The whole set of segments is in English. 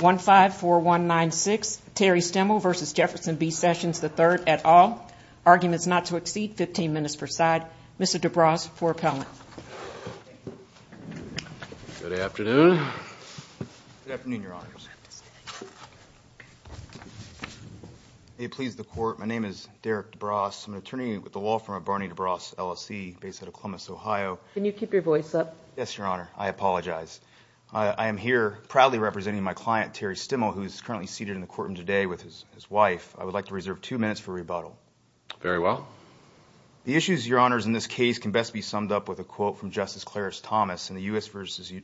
154196 Terry Stimmel v. Jefferson B Sessions III, et al. Arguments not to exceed 15 minutes per side. Mr. DeBrasse, for appellant. Good afternoon. Good afternoon, Your Honors. May it please the Court, my name is Derek DeBrasse. I'm an attorney with the law firm of Barney DeBrasse, LLC, based out of Columbus, Ohio. Can you keep your voice up? Yes, Your Honor. I apologize. I am here proudly representing my client, Terry Stimmel, who is currently seated in the courtroom today with his wife. I would like to reserve two minutes for rebuttal. Very well. The issues, Your Honors, in this case can best be summed up with a quote from Justice Clarence Thomas in the U.S. v.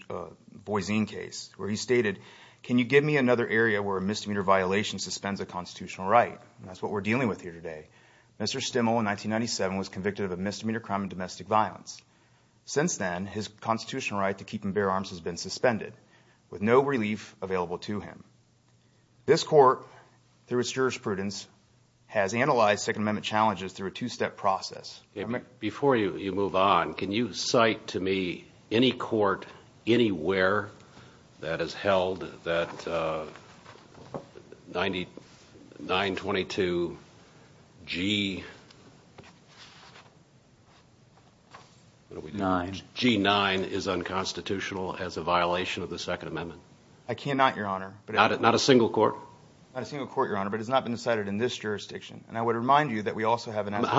Boise case, where he stated, Can you give me another area where a misdemeanor violation suspends a constitutional right? That's what we're dealing with here today. Mr. Stimmel, in 1997, was convicted of a misdemeanor crime of domestic violence. Since then, his constitutional right to keep and bear arms has been suspended, with no relief available to him. This Court, through its jurisprudence, has analyzed Second Amendment challenges through a two-step process. Before you move on, can you cite to me any court anywhere that has held that 922 G9 is unconstitutional as a violation of the Second Amendment? I cannot, Your Honor. Not a single court? Not a single court, Your Honor, but it has not been decided in this jurisdiction. How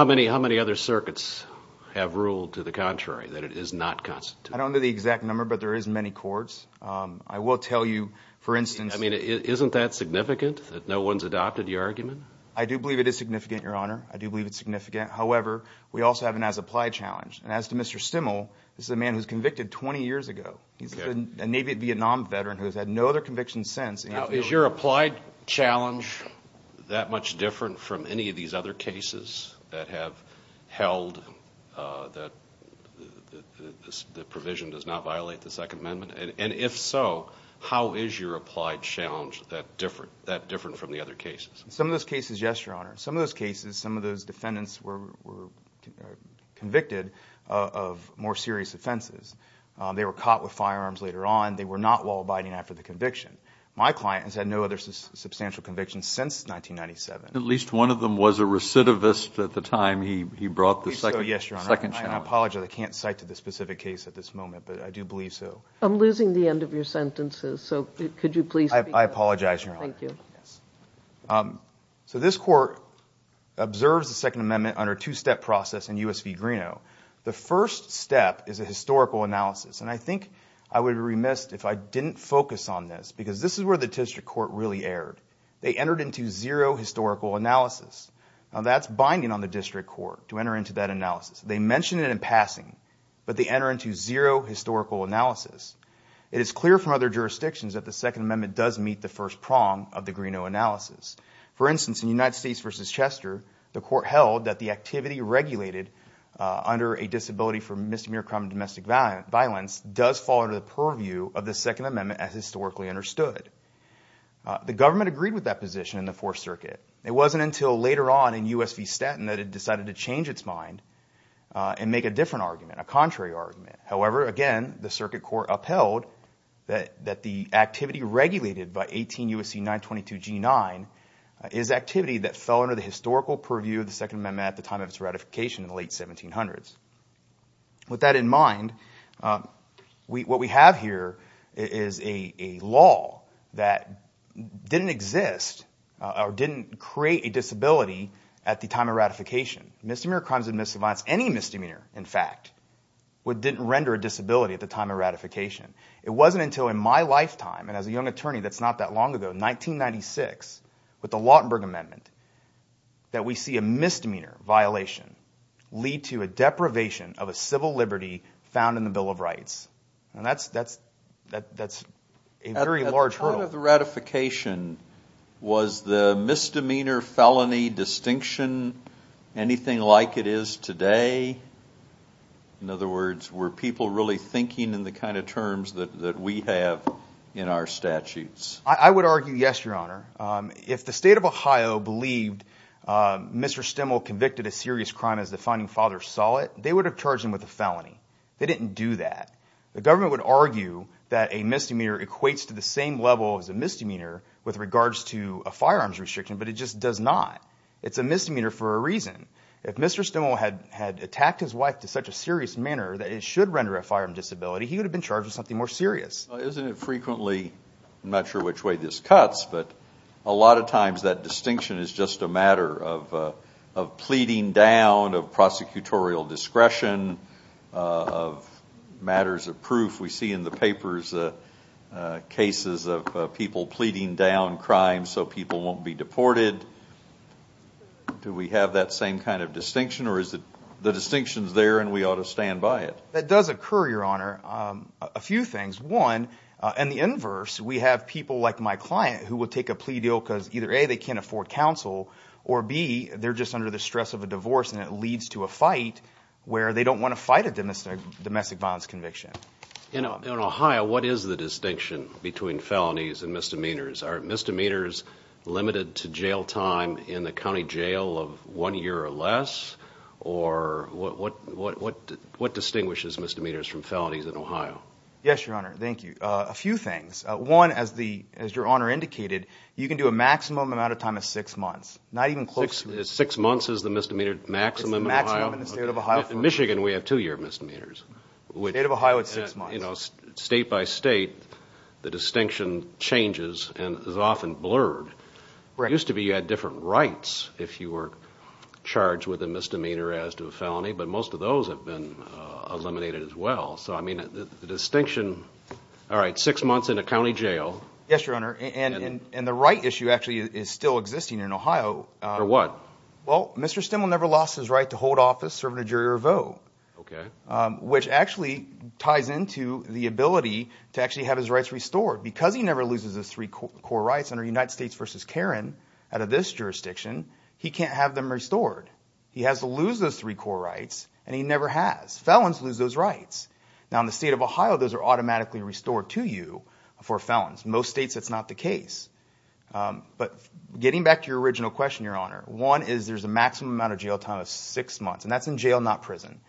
many other circuits have ruled to the contrary, that it is not constitutional? I don't know the exact number, but there is many courts. I will tell you, for instance... Isn't that significant, that no one's adopted your argument? I do believe it is significant, Your Honor. I do believe it's significant. However, we also have an as-applied challenge. And as to Mr. Stimmel, this is a man who was convicted 20 years ago. He's a Navy Vietnam veteran who has had no other convictions since. Now, is your applied challenge that much different from any of these other cases that have held that the provision does not violate the Second Amendment? And if so, how is your applied challenge that different from the other cases? Some of those cases, yes, Your Honor. Some of those cases, some of those defendants were convicted of more serious offenses. They were caught with firearms later on. They were not while abiding after the conviction. My client has had no other substantial convictions since 1997. At least one of them was a recidivist at the time he brought the second challenge. Yes, Your Honor. I apologize. I can't cite to the specific case at this moment, but I do believe so. I'm losing the end of your sentences, so could you please... I apologize, Your Honor. Thank you. So this court observes the Second Amendment under a two-step process in U.S. v. Greeno. The first step is a historical analysis. And I think I would be remiss if I didn't focus on this because this is where the district court really erred. They entered into zero historical analysis. Now, that's binding on the district court to enter into that analysis. They mention it in passing, but they enter into zero historical analysis. It is clear from other jurisdictions that the Second Amendment does meet the first prong of the Greeno analysis. For instance, in United States v. Chester, the court held that the activity regulated under a disability for misdemeanor crime and domestic violence does fall under the purview of the Second Amendment as historically understood. The government agreed with that position in the Fourth Circuit. It wasn't until later on in U.S. v. Staten that it decided to change its mind and make a different argument, a contrary argument. However, again, the circuit court upheld that the activity regulated by 18 U.S.C. 922 G-9 is activity that fell under the historical purview of the Second Amendment at the time of its ratification in the late 1700s. With that in mind, what we have here is a law that didn't exist or didn't create a disability at the time of ratification. Misdemeanor crimes and domestic violence, any misdemeanor in fact, didn't render a disability at the time of ratification. It wasn't until in my lifetime and as a young attorney that's not that long ago, 1996, with the Lautenberg Amendment, that we see a misdemeanor violation lead to a deprivation of a civil liberty found in the Bill of Rights. And that's a very large hurdle. At the time of the ratification, was the misdemeanor felony distinction anything like it is today? In other words, were people really thinking in the kind of terms that we have in our statutes? I would argue yes, Your Honor. If the state of Ohio believed Mr. Stemmel convicted a serious crime as the finding father saw it, they would have charged him with a felony. They didn't do that. The government would argue that a misdemeanor equates to the same level as a misdemeanor with regards to a firearms restriction, but it just does not. It's a misdemeanor for a reason. If Mr. Stemmel had attacked his wife to such a serious manner that it should render a firearm disability, he would have been charged with something more serious. Isn't it frequently, I'm not sure which way this cuts, but a lot of times that distinction is just a matter of pleading down, of prosecutorial discretion, of matters of proof. We see in the papers cases of people pleading down crime so people won't be deported. Do we have that same kind of distinction, or is it the distinction is there and we ought to stand by it? That does occur, Your Honor, a few things. One, and the inverse, we have people like my client who would take a plea deal because either A, they can't afford counsel, or B, they're just under the stress of a divorce, and it leads to a fight where they don't want to fight a domestic violence conviction. In Ohio, what is the distinction between felonies and misdemeanors? Are misdemeanors limited to jail time in the county jail of one year or less, or what distinguishes misdemeanors from felonies in Ohio? Yes, Your Honor, thank you. A few things. One, as Your Honor indicated, you can do a maximum amount of time of six months, not even close to that. Six months is the misdemeanor maximum in Ohio? It's the maximum in the state of Ohio. In Michigan, we have two-year misdemeanors. State of Ohio, it's six months. State by state, the distinction changes and is often blurred. It used to be you had different rights if you were charged with a misdemeanor as to a felony, but most of those have been eliminated as well. So, I mean, the distinction, all right, six months in a county jail. Yes, Your Honor, and the right issue actually is still existing in Ohio. For what? Well, Mr. Stimmel never lost his right to hold office, serve in a jury, or vote. Okay. Which actually ties into the ability to actually have his rights restored. Because he never loses his three core rights under United States v. Karen out of this jurisdiction, he can't have them restored. He has to lose those three core rights, and he never has. Felons lose those rights. Now, in the state of Ohio, those are automatically restored to you for felons. In most states, that's not the case. But getting back to your original question, Your Honor, one is there's a maximum amount of jail time of six months, and that's in jail, not prison.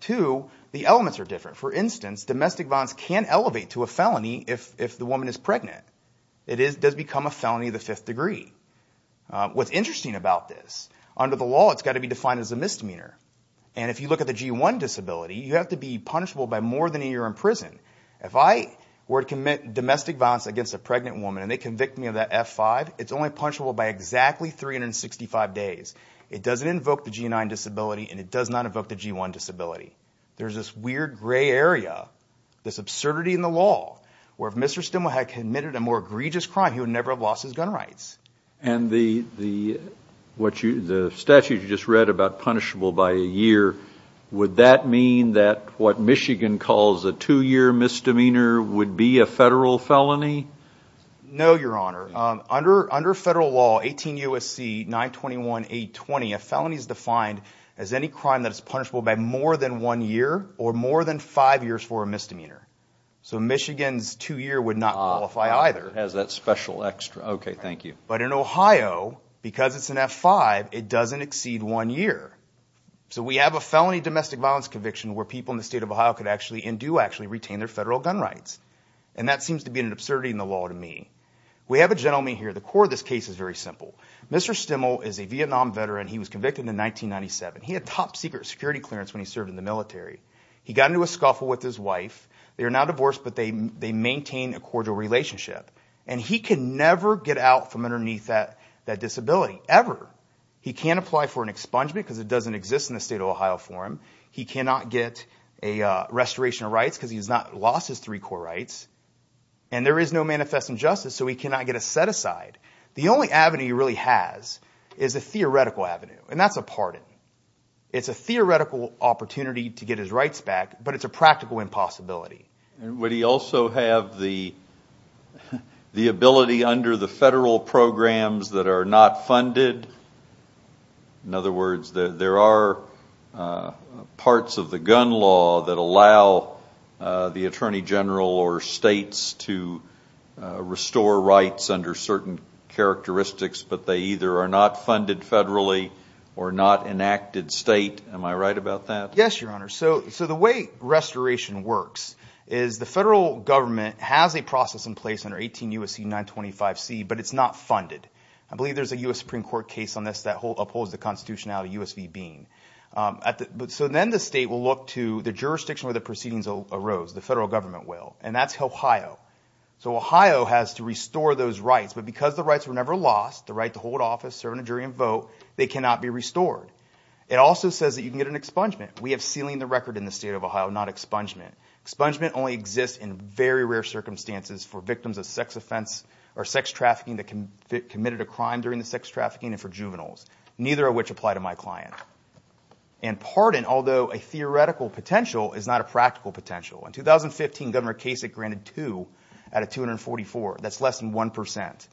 Two, the elements are different. For instance, domestic violence can elevate to a felony if the woman is pregnant. It does become a felony of the fifth degree. What's interesting about this, under the law, it's got to be defined as a misdemeanor. And if you look at the G-1 disability, you have to be punishable by more than a year in prison. If I were to commit domestic violence against a pregnant woman and they convict me of that F-5, it's only punishable by exactly 365 days. It doesn't invoke the G-9 disability, and it does not invoke the G-1 disability. There's this weird gray area, this absurdity in the law, where if Mr. Stimel had committed a more egregious crime, he would never have lost his gun rights. And the statute you just read about punishable by a year, would that mean that what Michigan calls a two-year misdemeanor would be a federal felony? No, Your Honor. Under federal law, 18 U.S.C. 921-820, a felony is defined as any crime that is punishable by more than one year or more than five years for a misdemeanor. So Michigan's two-year would not qualify either. Okay, thank you. But in Ohio, because it's an F-5, it doesn't exceed one year. So we have a felony domestic violence conviction where people in the state of Ohio could actually and do actually retain their federal gun rights. And that seems to be an absurdity in the law to me. We have a gentleman here. The core of this case is very simple. Mr. Stimel is a Vietnam veteran. He was convicted in 1997. He had top-secret security clearance when he served in the military. He got into a scuffle with his wife. They are now divorced, but they maintain a cordial relationship. And he can never get out from underneath that disability, ever. He can't apply for an expungement because it doesn't exist in the state of Ohio for him. He cannot get a restoration of rights because he has not lost his three core rights. And there is no manifest injustice, so he cannot get a set-aside. The only avenue he really has is a theoretical avenue, and that's a pardon. It's a theoretical opportunity to get his rights back, but it's a practical impossibility. Would he also have the ability under the federal programs that are not funded? In other words, there are parts of the gun law that allow the Attorney General or states to restore rights under certain characteristics, but they either are not funded federally or not enacted state. Am I right about that? Yes, Your Honor. So the way restoration works is the federal government has a process in place under 18 U.S.C. 925C, but it's not funded. I believe there's a U.S. Supreme Court case on this that upholds the constitutionality of U.S.V. Bean. So then the state will look to the jurisdiction where the proceedings arose. The federal government will, and that's Ohio. So Ohio has to restore those rights, but because the rights were never lost, the right to hold office, serve in a jury, and vote, they cannot be restored. It also says that you can get an expungement. We have sealing the record in the state of Ohio, not expungement. Expungement only exists in very rare circumstances for victims of sex offense or sex trafficking that committed a crime during the sex trafficking and for juveniles, neither of which apply to my client. And pardon, although a theoretical potential is not a practical potential. In 2015, Governor Kasich granted two out of 244. That's less than 1%.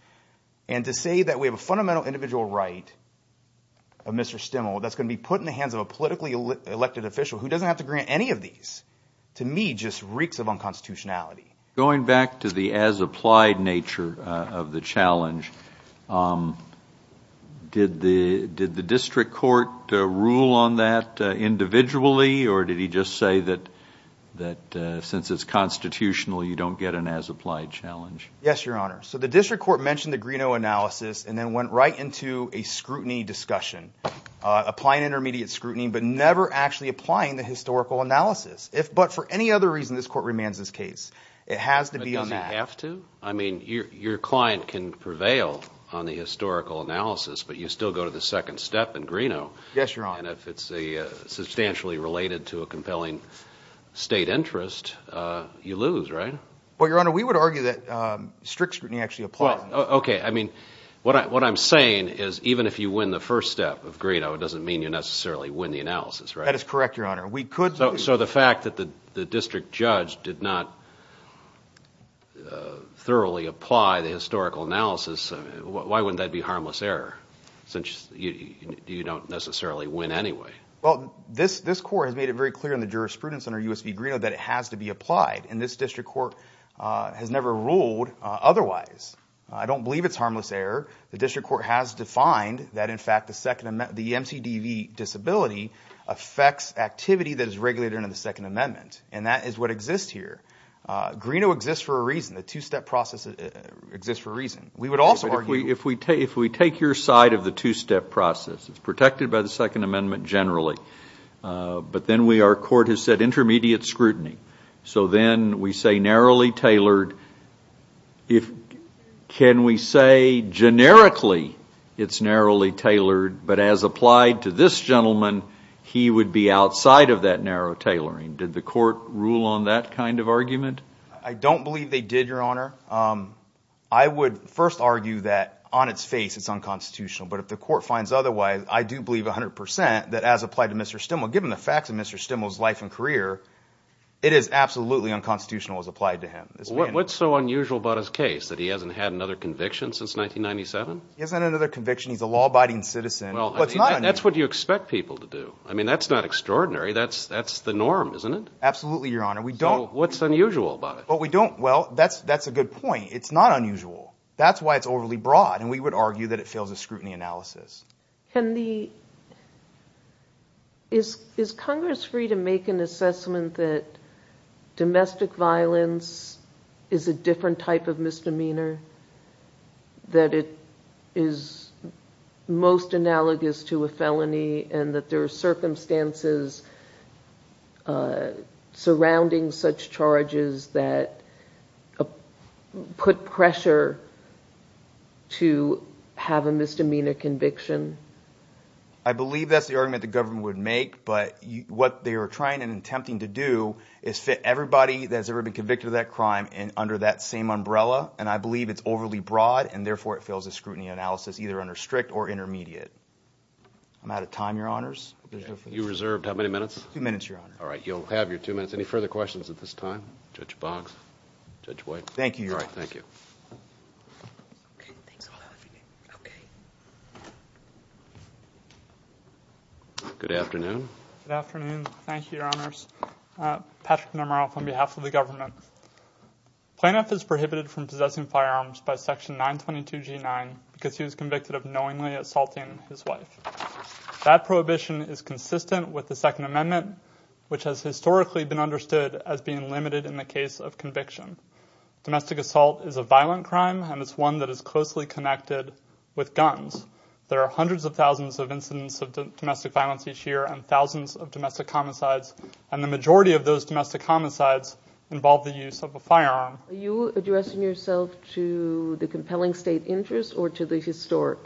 And to say that we have a fundamental individual right of Mr. Stimmel that's going to be put in the hands of a politically elected official who doesn't have to grant any of these to me just reeks of unconstitutionality. Going back to the as-applied nature of the challenge, did the district court rule on that individually, or did he just say that since it's constitutional, you don't get an as-applied challenge? Yes, Your Honor. So the district court mentioned the Greeno analysis and then went right into a scrutiny discussion, applying intermediate scrutiny but never actually applying the historical analysis. But for any other reason, this court remains this case. It has to be on that. But does it have to? I mean, your client can prevail on the historical analysis, but you still go to the second step in Greeno. Yes, Your Honor. And if it's substantially related to a compelling state interest, you lose, right? Well, Your Honor, we would argue that strict scrutiny actually applies. Okay. I mean, what I'm saying is even if you win the first step of Greeno, it doesn't mean you necessarily win the analysis, right? That is correct, Your Honor. So the fact that the district judge did not thoroughly apply the historical analysis, why wouldn't that be harmless error since you don't necessarily win anyway? Well, this court has made it very clear in the jurisprudence under U.S. v. Greeno that it has to be applied, and this district court has never ruled otherwise. I don't believe it's harmless error. The district court has defined that, in fact, the MCDV disability affects activity that is regulated under the Second Amendment, and that is what exists here. Greeno exists for a reason. The two-step process exists for a reason. We would also argue that. If we take your side of the two-step process, it's protected by the Second Amendment generally, but then our court has said intermediate scrutiny. So then we say narrowly tailored. Can we say generically it's narrowly tailored, but as applied to this gentleman, he would be outside of that narrow tailoring? Did the court rule on that kind of argument? I don't believe they did, Your Honor. I would first argue that on its face it's unconstitutional, but if the court finds otherwise, I do believe 100% that as applied to Mr. Stimmel, given the facts of Mr. Stimmel's life and career, it is absolutely unconstitutional as applied to him. What's so unusual about his case, that he hasn't had another conviction since 1997? He hasn't had another conviction. He's a law-abiding citizen. Well, that's what you expect people to do. I mean, that's not extraordinary. That's the norm, isn't it? Absolutely, Your Honor. So what's unusual about it? Well, that's a good point. It's not unusual. That's why it's overly broad, and we would argue that it fails the scrutiny analysis. Is Congress free to make an assessment that domestic violence is a different type of misdemeanor, and that there are circumstances surrounding such charges that put pressure to have a misdemeanor conviction? I believe that's the argument the government would make, but what they are trying and attempting to do is fit everybody that has ever been convicted of that crime under that same umbrella, and I believe it's overly broad, and therefore it fails the scrutiny analysis, either under strict or intermediate. I'm out of time, Your Honors. You reserved how many minutes? Two minutes, Your Honor. All right. You'll have your two minutes. Any further questions at this time? Judge Boggs? Judge White? Thank you, Your Honor. All right. Thank you. Good afternoon. Good afternoon. Thank you, Your Honors. Patrick Nomaroff on behalf of the government. Plaintiff is prohibited from possessing firearms by Section 922G9 because he was convicted of knowingly assaulting his wife. That prohibition is consistent with the Second Amendment, which has historically been understood as being limited in the case of conviction. Domestic assault is a violent crime, and it's one that is closely connected with guns. There are hundreds of thousands of incidents of domestic violence each year and thousands of domestic homicides, and the majority of those domestic homicides involve the use of a firearm. Are you addressing yourself to the compelling state interest or to the historic?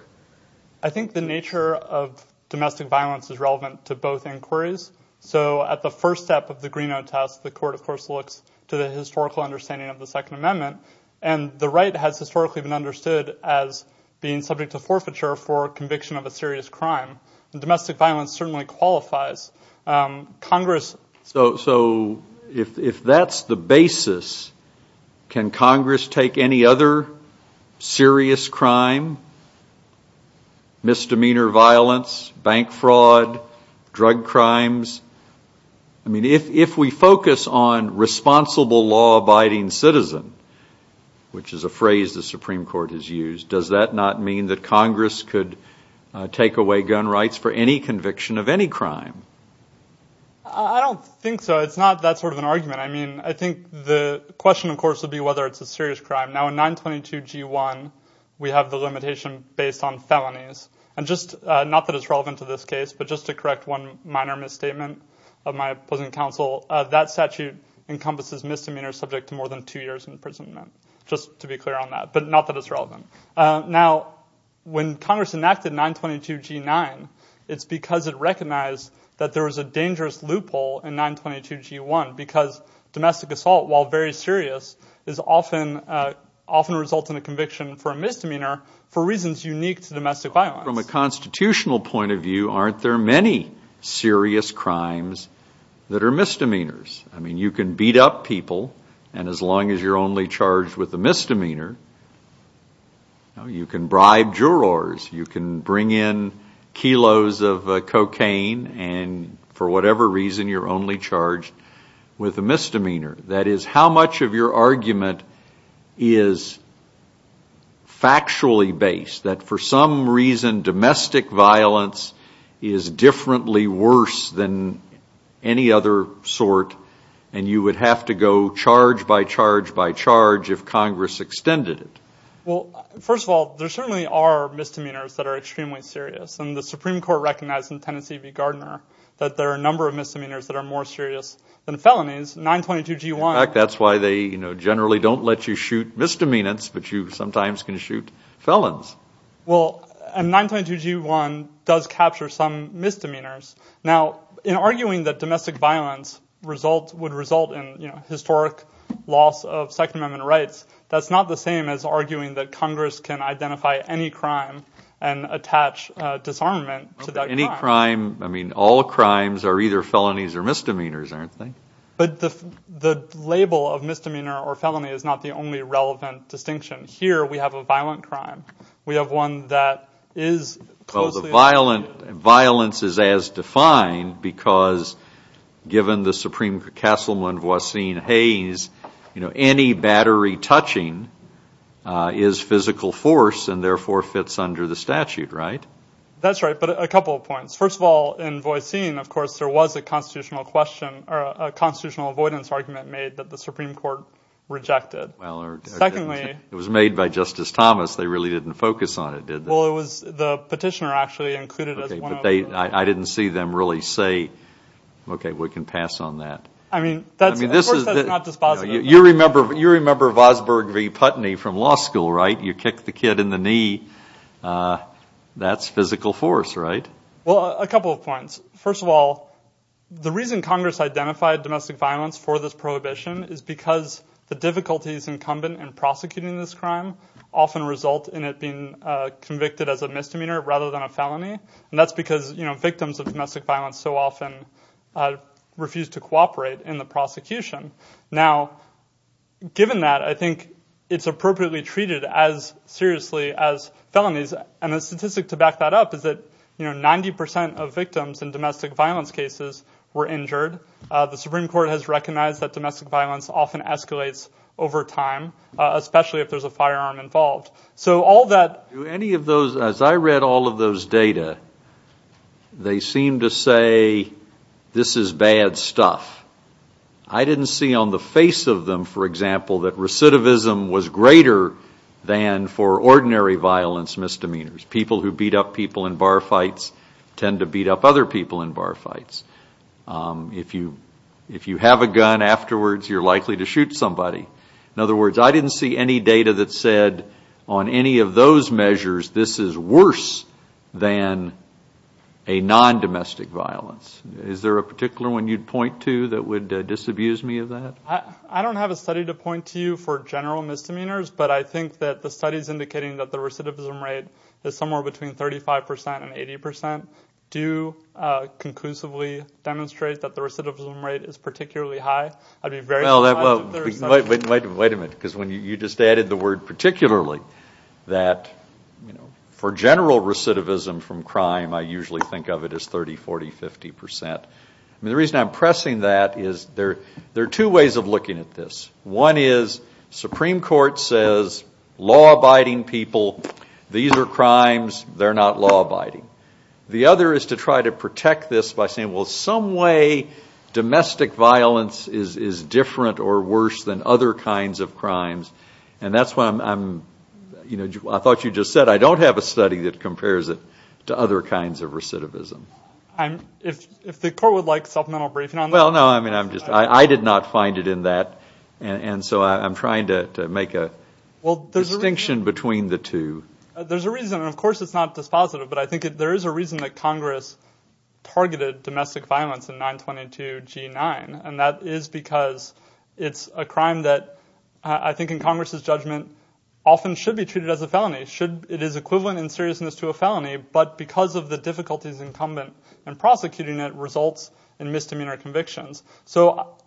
I think the nature of domestic violence is relevant to both inquiries. So at the first step of the Greeno test, the court, of course, looks to the historical understanding of the Second Amendment, and the right has historically been understood as being subject to forfeiture for conviction of a serious crime. Domestic violence certainly qualifies. So if that's the basis, can Congress take any other serious crime, misdemeanor violence, bank fraud, drug crimes? I mean, if we focus on responsible law-abiding citizen, which is a phrase the Supreme Court has used, does that not mean that Congress could take away gun rights for any conviction of any crime? I don't think so. It's not that sort of an argument. I mean, I think the question, of course, would be whether it's a serious crime. Now, in 922G1, we have the limitation based on felonies, and just not that it's relevant to this case, but just to correct one minor misstatement of my opposing counsel, that statute encompasses misdemeanors subject to more than two years' imprisonment, just to be clear on that, but not that it's relevant. Now, when Congress enacted 922G9, it's because it recognized that there was a dangerous loophole in 922G1 because domestic assault, while very serious, often results in a conviction for a misdemeanor for reasons unique to domestic violence. From a constitutional point of view, aren't there many serious crimes that are misdemeanors? I mean, you can beat up people, and as long as you're only charged with a misdemeanor, you can bribe jurors, you can bring in kilos of cocaine, and for whatever reason, you're only charged with a misdemeanor. That is, how much of your argument is factually based, that for some reason domestic violence is differently worse than any other sort, and you would have to go charge by charge by charge if Congress extended it? Well, first of all, there certainly are misdemeanors that are extremely serious, and the Supreme Court recognized in Tennessee v. Gardner that there are a number of misdemeanors that are more serious than felonies. 922G1. In fact, that's why they generally don't let you shoot misdemeanors, but you sometimes can shoot felons. Well, and 922G1 does capture some misdemeanors. Now, in arguing that domestic violence would result in historic loss of Second Amendment rights, that's not the same as arguing that Congress can identify any crime and attach disarmament to that crime. Any crime, I mean, all crimes are either felonies or misdemeanors, aren't they? But the label of misdemeanor or felony is not the only relevant distinction. Here we have a violent crime. We have one that is closely associated. Well, the violence is as defined because given the Supreme Castleman, Voisin Hayes, any battery touching is physical force and therefore fits under the statute, right? That's right, but a couple of points. First of all, in Voisin, of course, there was a constitutional question or a constitutional avoidance argument made that the Supreme Court rejected. Secondly- It was made by Justice Thomas. They really didn't focus on it, did they? Well, it was the petitioner actually included as one of the- Okay, but I didn't see them really say, okay, we can pass on that. I mean, that's- I mean, this is- You remember Vosburg v. Putney from law school, right? You kick the kid in the knee. That's physical force, right? Well, a couple of points. First of all, the reason Congress identified domestic violence for this prohibition is because the difficulties incumbent in prosecuting this crime often result in it being convicted as a misdemeanor rather than a felony, and that's because victims of domestic violence so often refuse to cooperate in the prosecution. Now, given that, I think it's appropriately treated as seriously as felonies, and the statistic to back that up is that 90% of victims in domestic violence cases were injured. The Supreme Court has recognized that domestic violence often escalates over time, especially if there's a firearm involved. So all that- Do any of those- As I read all of those data, they seem to say this is bad stuff. I didn't see on the face of them, for example, that recidivism was greater than for ordinary violence misdemeanors. People who beat up people in bar fights tend to beat up other people in bar fights. If you have a gun afterwards, you're likely to shoot somebody. In other words, I didn't see any data that said on any of those measures this is worse than a non-domestic violence. Is there a particular one you'd point to that would disabuse me of that? I don't have a study to point to for general misdemeanors, but I think that the study is indicating that the recidivism rate is somewhere between 35% and 80%. Do you conclusively demonstrate that the recidivism rate is particularly high? I'd be very surprised if there is some- Wait a minute, because you just added the word particularly. For general recidivism from crime, I usually think of it as 30%, 40%, 50%. The reason I'm pressing that is there are two ways of looking at this. One is Supreme Court says law-abiding people, these are crimes, they're not law-abiding. The other is to try to protect this by saying, well, some way domestic violence is different or worse than other kinds of crimes. That's why I thought you just said, I don't have a study that compares it to other kinds of recidivism. If the court would like supplemental briefing on that- Well, no, I did not find it in that, and so I'm trying to make a distinction between the two. There's a reason, and of course it's not dispositive, but I think there is a reason that Congress targeted domestic violence in 922 G9, and that is because it's a crime that I think in Congress's judgment often should be treated as a felony. It is equivalent in seriousness to a felony, but because of the difficulties incumbent in prosecuting it results in misdemeanor convictions. So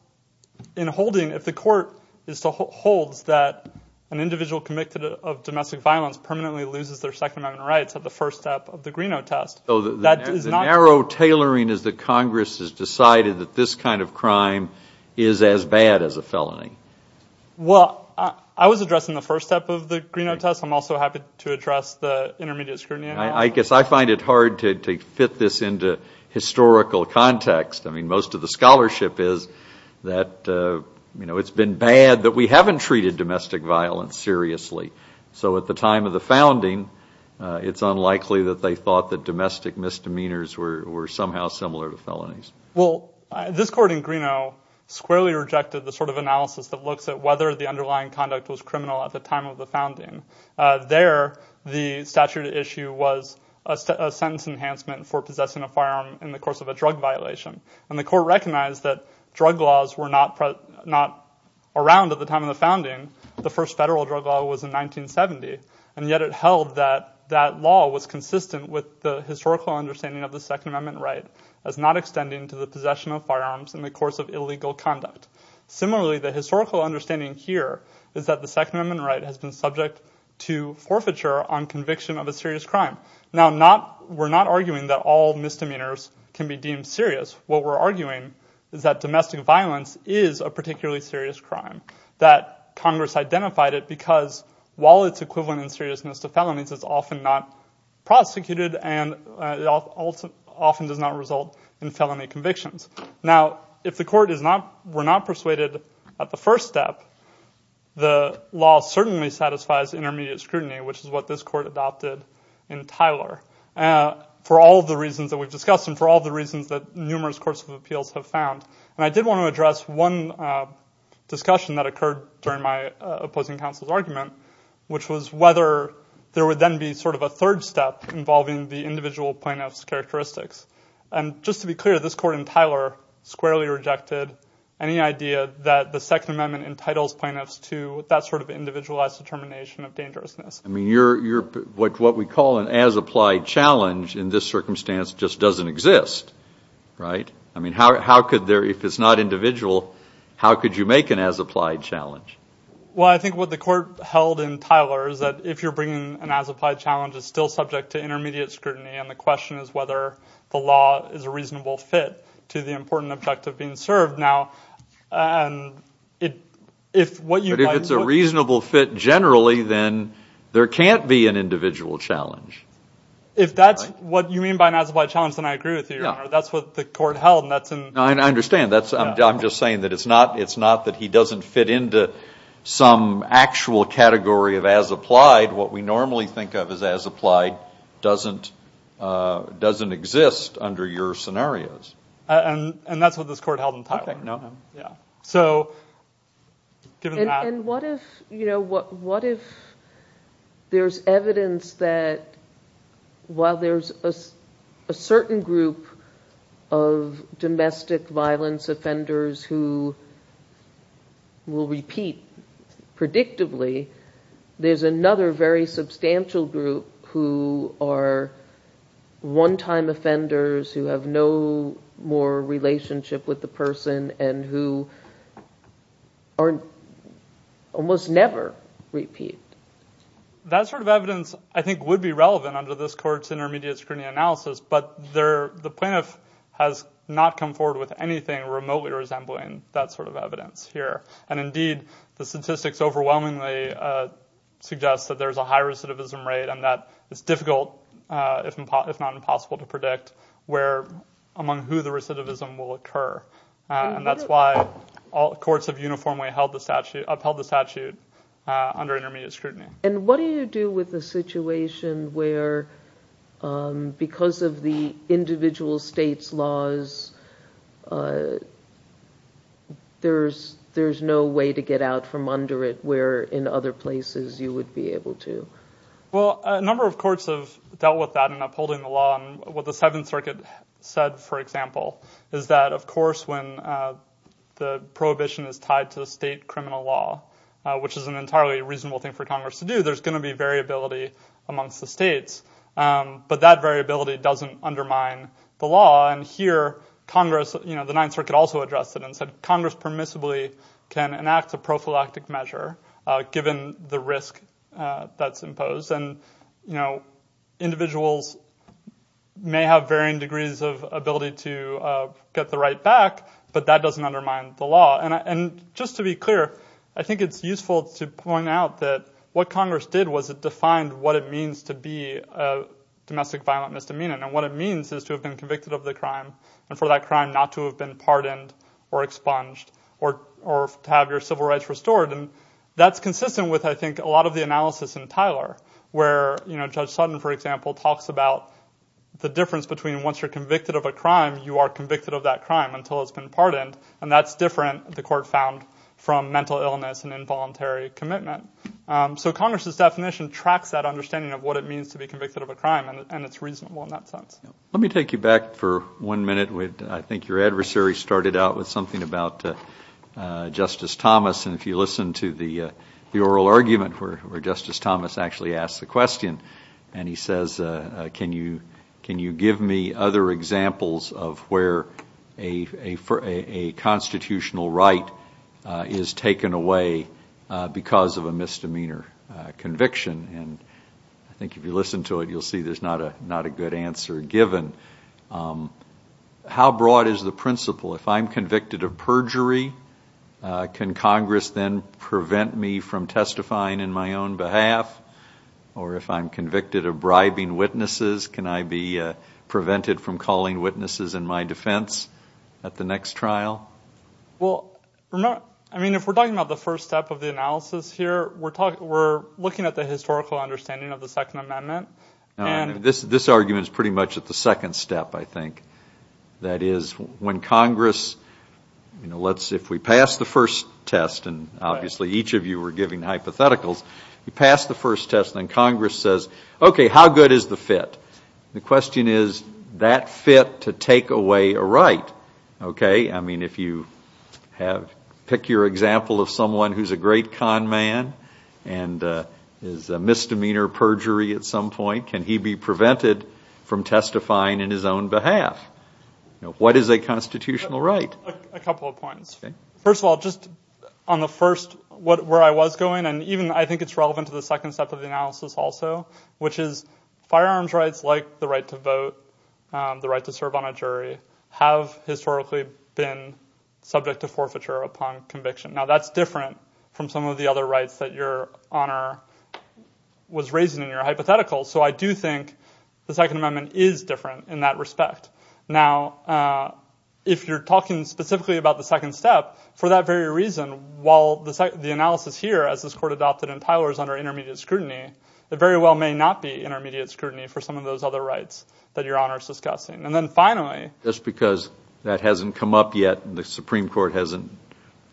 in holding, if the court holds that an individual convicted of domestic violence permanently loses their Second Amendment rights at the first step of the Greeno test- The narrow tailoring is that Congress has decided that this kind of crime is as bad as a felony. Well, I was addressing the first step of the Greeno test. I'm also happy to address the intermediate scrutiny- I guess I find it hard to fit this into historical context. I mean, most of the scholarship is that it's been bad that we haven't treated domestic violence seriously. So at the time of the founding, it's unlikely that they thought that domestic misdemeanors were somehow similar to felonies. Well, this court in Greeno squarely rejected the sort of analysis that looks at whether the underlying conduct was criminal at the time of the founding. There, the statute at issue was a sentence enhancement for possessing a firearm in the course of a drug violation, and the court recognized that drug laws were not around at the time of the founding. The first federal drug law was in 1970, and yet it held that that law was consistent with the historical understanding of the Second Amendment right as not extending to the possession of firearms in the course of illegal conduct. Similarly, the historical understanding here is that the Second Amendment right has been subject to forfeiture on conviction of a serious crime. Now, we're not arguing that all misdemeanors can be deemed serious. What we're arguing is that domestic violence is a particularly serious crime. That Congress identified it because while it's equivalent in seriousness to felonies, it's often not prosecuted and often does not result in felony convictions. Now, if the court were not persuaded at the first step, the law certainly satisfies intermediate scrutiny, which is what this court adopted in Tyler for all of the reasons that we've discussed and for all of the reasons that numerous courts of appeals have found. And I did want to address one discussion that occurred during my opposing counsel's argument, which was whether there would then be sort of a third step involving the individual plaintiff's characteristics. And just to be clear, this court in Tyler squarely rejected any idea that the Second Amendment entitles plaintiffs to that sort of individualized determination of dangerousness. I mean, what we call an as-applied challenge in this circumstance just doesn't exist, right? I mean, how could there, if it's not individual, how could you make an as-applied challenge? Well, I think what the court held in Tyler is that if you're bringing an as-applied challenge, it's still subject to intermediate scrutiny, and the question is whether the law is a reasonable fit to the important objective being served. Now, if what you might put... But if it's a reasonable fit generally, then there can't be an individual challenge. If that's what you mean by an as-applied challenge, then I agree with you, Your Honor. That's what the court held, and that's in... I understand. I'm just saying that it's not that he doesn't fit into some actual category of as-applied. What we normally think of as as-applied doesn't exist under your scenarios. And that's what this court held in Tyler. And what if there's evidence that while there's a certain group of domestic violence offenders who will repeat predictably, there's another very substantial group who are one-time offenders who have no more relationship with the person and who almost never repeat? That sort of evidence, I think, would be relevant under this court's intermediate scrutiny analysis, but the plaintiff has not come forward with anything remotely resembling that sort of evidence here. And indeed, the statistics overwhelmingly suggest that there's a high recidivism rate and that it's difficult, if not impossible, to predict among who the recidivism will occur. And that's why courts have uniformly upheld the statute under intermediate scrutiny. And what do you do with a situation where, because of the individual state's laws, there's no way to get out from under it where in other places you would be able to? Well, a number of courts have dealt with that in upholding the law. And what the Seventh Circuit said, for example, is that, of course, when the prohibition is tied to the state criminal law, which is an entirely reasonable thing for Congress to do, there's going to be variability amongst the states. But that variability doesn't undermine the law. And here, Congress, you know, the Ninth Circuit also addressed it and said, Congress permissibly can enact a prophylactic measure given the risk that's imposed. And, you know, individuals may have varying degrees of ability to get the right back, but that doesn't undermine the law. And just to be clear, I think it's useful to point out that what Congress did was it defined what it means to be a domestic violent misdemeanor. And what it means is to have been convicted of the crime and for that crime not to have been pardoned or expunged or to have your civil rights restored. And that's consistent with, I think, a lot of the analysis in Tyler, where, you know, Judge Sutton, for example, talks about the difference between once you're convicted of a crime, you are convicted of that crime until it's been pardoned. And that's different, the court found, from mental illness and involuntary commitment. So Congress's definition tracks that understanding of what it means to be convicted of a crime, and it's reasonable in that sense. Let me take you back for one minute. I think your adversary started out with something about Justice Thomas. And if you listen to the oral argument where Justice Thomas actually asked the question, and he says, can you give me other examples of where a constitutional right is taken away because of a misdemeanor conviction? And I think if you listen to it, you'll see there's not a good answer given. How broad is the principle? If I'm convicted of perjury, can Congress then prevent me from testifying in my own behalf? Or if I'm convicted of bribing witnesses, can I be prevented from calling witnesses in my defense at the next trial? Well, I mean, if we're talking about the first step of the analysis here, we're looking at the historical understanding of the Second Amendment. This argument is pretty much at the second step, I think. That is, when Congress, you know, if we pass the first test, and obviously each of you were giving hypotheticals, we pass the first test and Congress says, okay, how good is the fit? The question is, that fit to take away a right, okay? I mean, if you pick your example of someone who's a great con man and is a misdemeanor perjury at some point, can he be prevented from testifying in his own behalf? What is a constitutional right? A couple of points. First of all, just on the first, where I was going, and even I think it's relevant to the second step of the analysis also, which is firearms rights like the right to vote, the right to serve on a jury, have historically been subject to forfeiture upon conviction. Now, that's different from some of the other rights that Your Honor was raising in your hypotheticals. So I do think the Second Amendment is different in that respect. Now, if you're talking specifically about the second step, for that very reason, while the analysis here, as this court adopted in Tyler's under intermediate scrutiny, it very well may not be intermediate scrutiny for some of those other rights that Your Honor is discussing. And then finally... Because that hasn't come up yet and the Supreme Court hasn't chosen.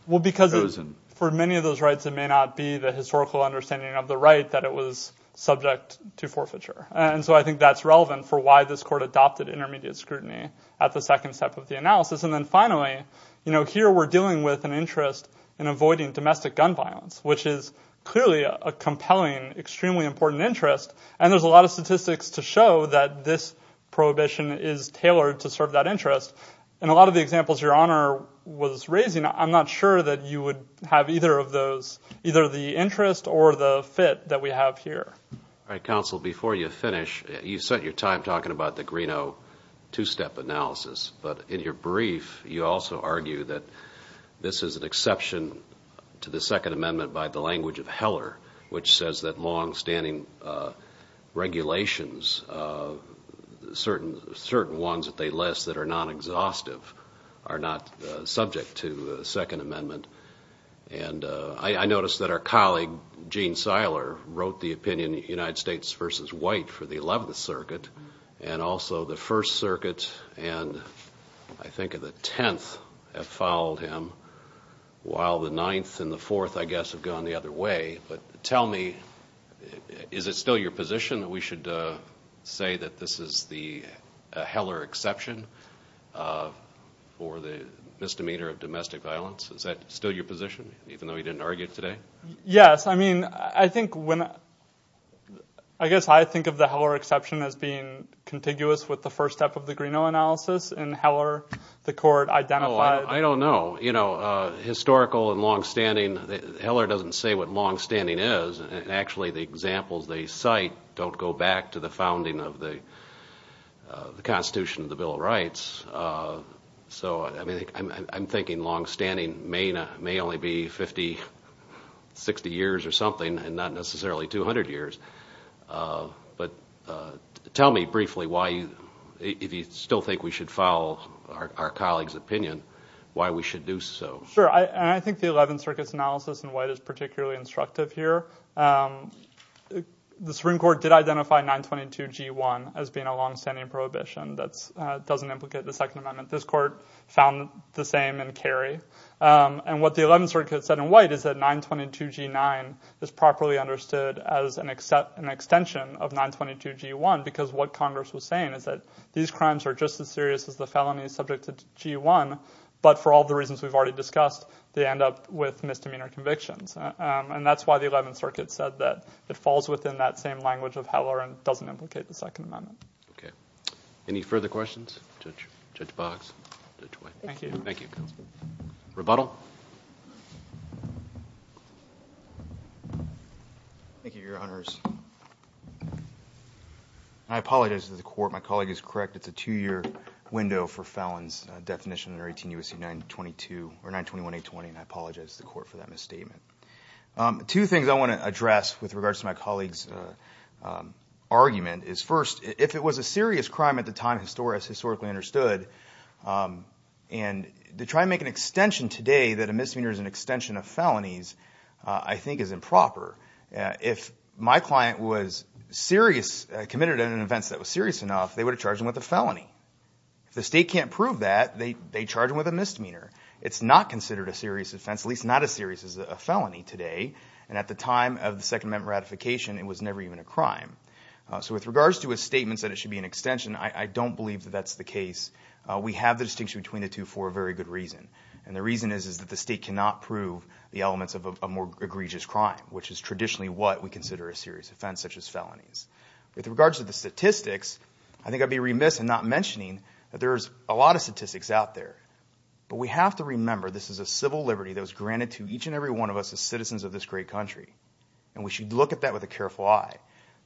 Well, because for many of those rights, it may not be the historical understanding of the right that it was subject to forfeiture. And so I think that's relevant for why this court adopted intermediate scrutiny at the second step of the analysis. And then finally, here we're dealing with an interest in avoiding domestic gun violence, which is clearly a compelling, extremely important interest. And there's a lot of statistics to show that this prohibition is tailored to serve that interest. And a lot of the examples Your Honor was raising, I'm not sure that you would have either of those, either the interest or the fit that we have here. All right, counsel, before you finish, you set your time talking about the Greeno two-step analysis. But in your brief, you also argue that this is an exception to the Second Amendment by the language of Heller, which says that longstanding regulations, certain ones that they list that are non-exhaustive, are not subject to the Second Amendment. And I noticed that our colleague, Gene Seiler, wrote the opinion United States versus White for the 11th Circuit, and also the First Circuit and I think of the 10th have followed him, while the 9th and the 4th, I guess, have gone the other way. But tell me, is it still your position that we should say that this is the Heller exception for the misdemeanor of domestic violence? Is that still your position, even though you didn't argue it today? Yes, I mean, I think when – I guess I think of the Heller exception as being contiguous with the first step of the Greeno analysis. In Heller, the court identified – I don't know. You know, historical and longstanding – Heller doesn't say what longstanding is. Actually, the examples they cite don't go back to the founding of the Constitution of the Bill of Rights. So, I mean, I'm thinking longstanding may only be 50, 60 years or something, and not necessarily 200 years. But tell me briefly why – if you still think we should follow our colleague's opinion, why we should do so. Sure, and I think the 11th Circuit's analysis in White is particularly instructive here. The Supreme Court did identify 922G1 as being a longstanding prohibition. That doesn't implicate the Second Amendment. This court found the same in Carey. And what the 11th Circuit said in White is that 922G9 is properly understood as an extension of 922G1 because what Congress was saying is that these crimes are just as serious as the felonies subject to G1, but for all the reasons we've already discussed, they end up with misdemeanor convictions. And that's why the 11th Circuit said that it falls within that same language of Heller and doesn't implicate the Second Amendment. Okay. Any further questions? Judge Boggs, Judge White. Thank you. Rebuttal. Thank you, Your Honors. I apologize to the court. My colleague is correct. It's a two-year window for felons definition under 18 U.S.C. 921-820, and I apologize to the court for that misstatement. Two things I want to address with regards to my colleague's argument is, first, if it was a serious crime at the time historically understood, and to try and make an extension today that a misdemeanor is an extension of felonies I think is improper. If my client was serious, committed an offense that was serious enough, they would have charged him with a felony. If the state can't prove that, they charge him with a misdemeanor. It's not considered a serious offense, at least not as serious as a felony today. And at the time of the Second Amendment ratification, it was never even a crime. So with regards to his statements that it should be an extension, I don't believe that that's the case. We have the distinction between the two for a very good reason, and the reason is that the state cannot prove the elements of a more egregious crime, which is traditionally what we consider a serious offense such as felonies. With regards to the statistics, I think I'd be remiss in not mentioning that there's a lot of statistics out there. But we have to remember this is a civil liberty that was granted to each and every one of us as citizens of this great country, and we should look at that with a careful eye.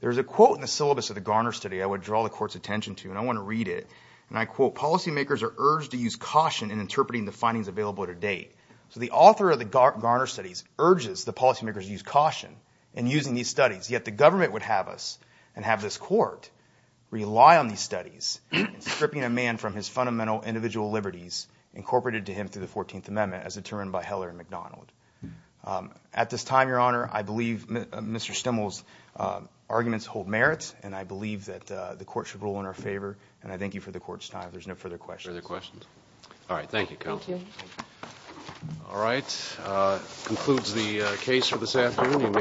There's a quote in the syllabus of the Garner study I would draw the court's attention to, and I want to read it. And I quote, Policymakers are urged to use caution in interpreting the findings available to date. So the author of the Garner studies urges the policymakers to use caution in using these studies. Yet the government would have us and have this court rely on these studies, stripping a man from his fundamental individual liberties incorporated to him through the 14th Amendment, as determined by Heller and McDonald. At this time, Your Honor, I believe Mr. Stemmel's arguments hold merit, and I believe that the court should rule in our favor. And I thank you for the court's time. There's no further questions. Further questions? All right. Thank you, counsel. Thank you. All right. That concludes the case for this afternoon.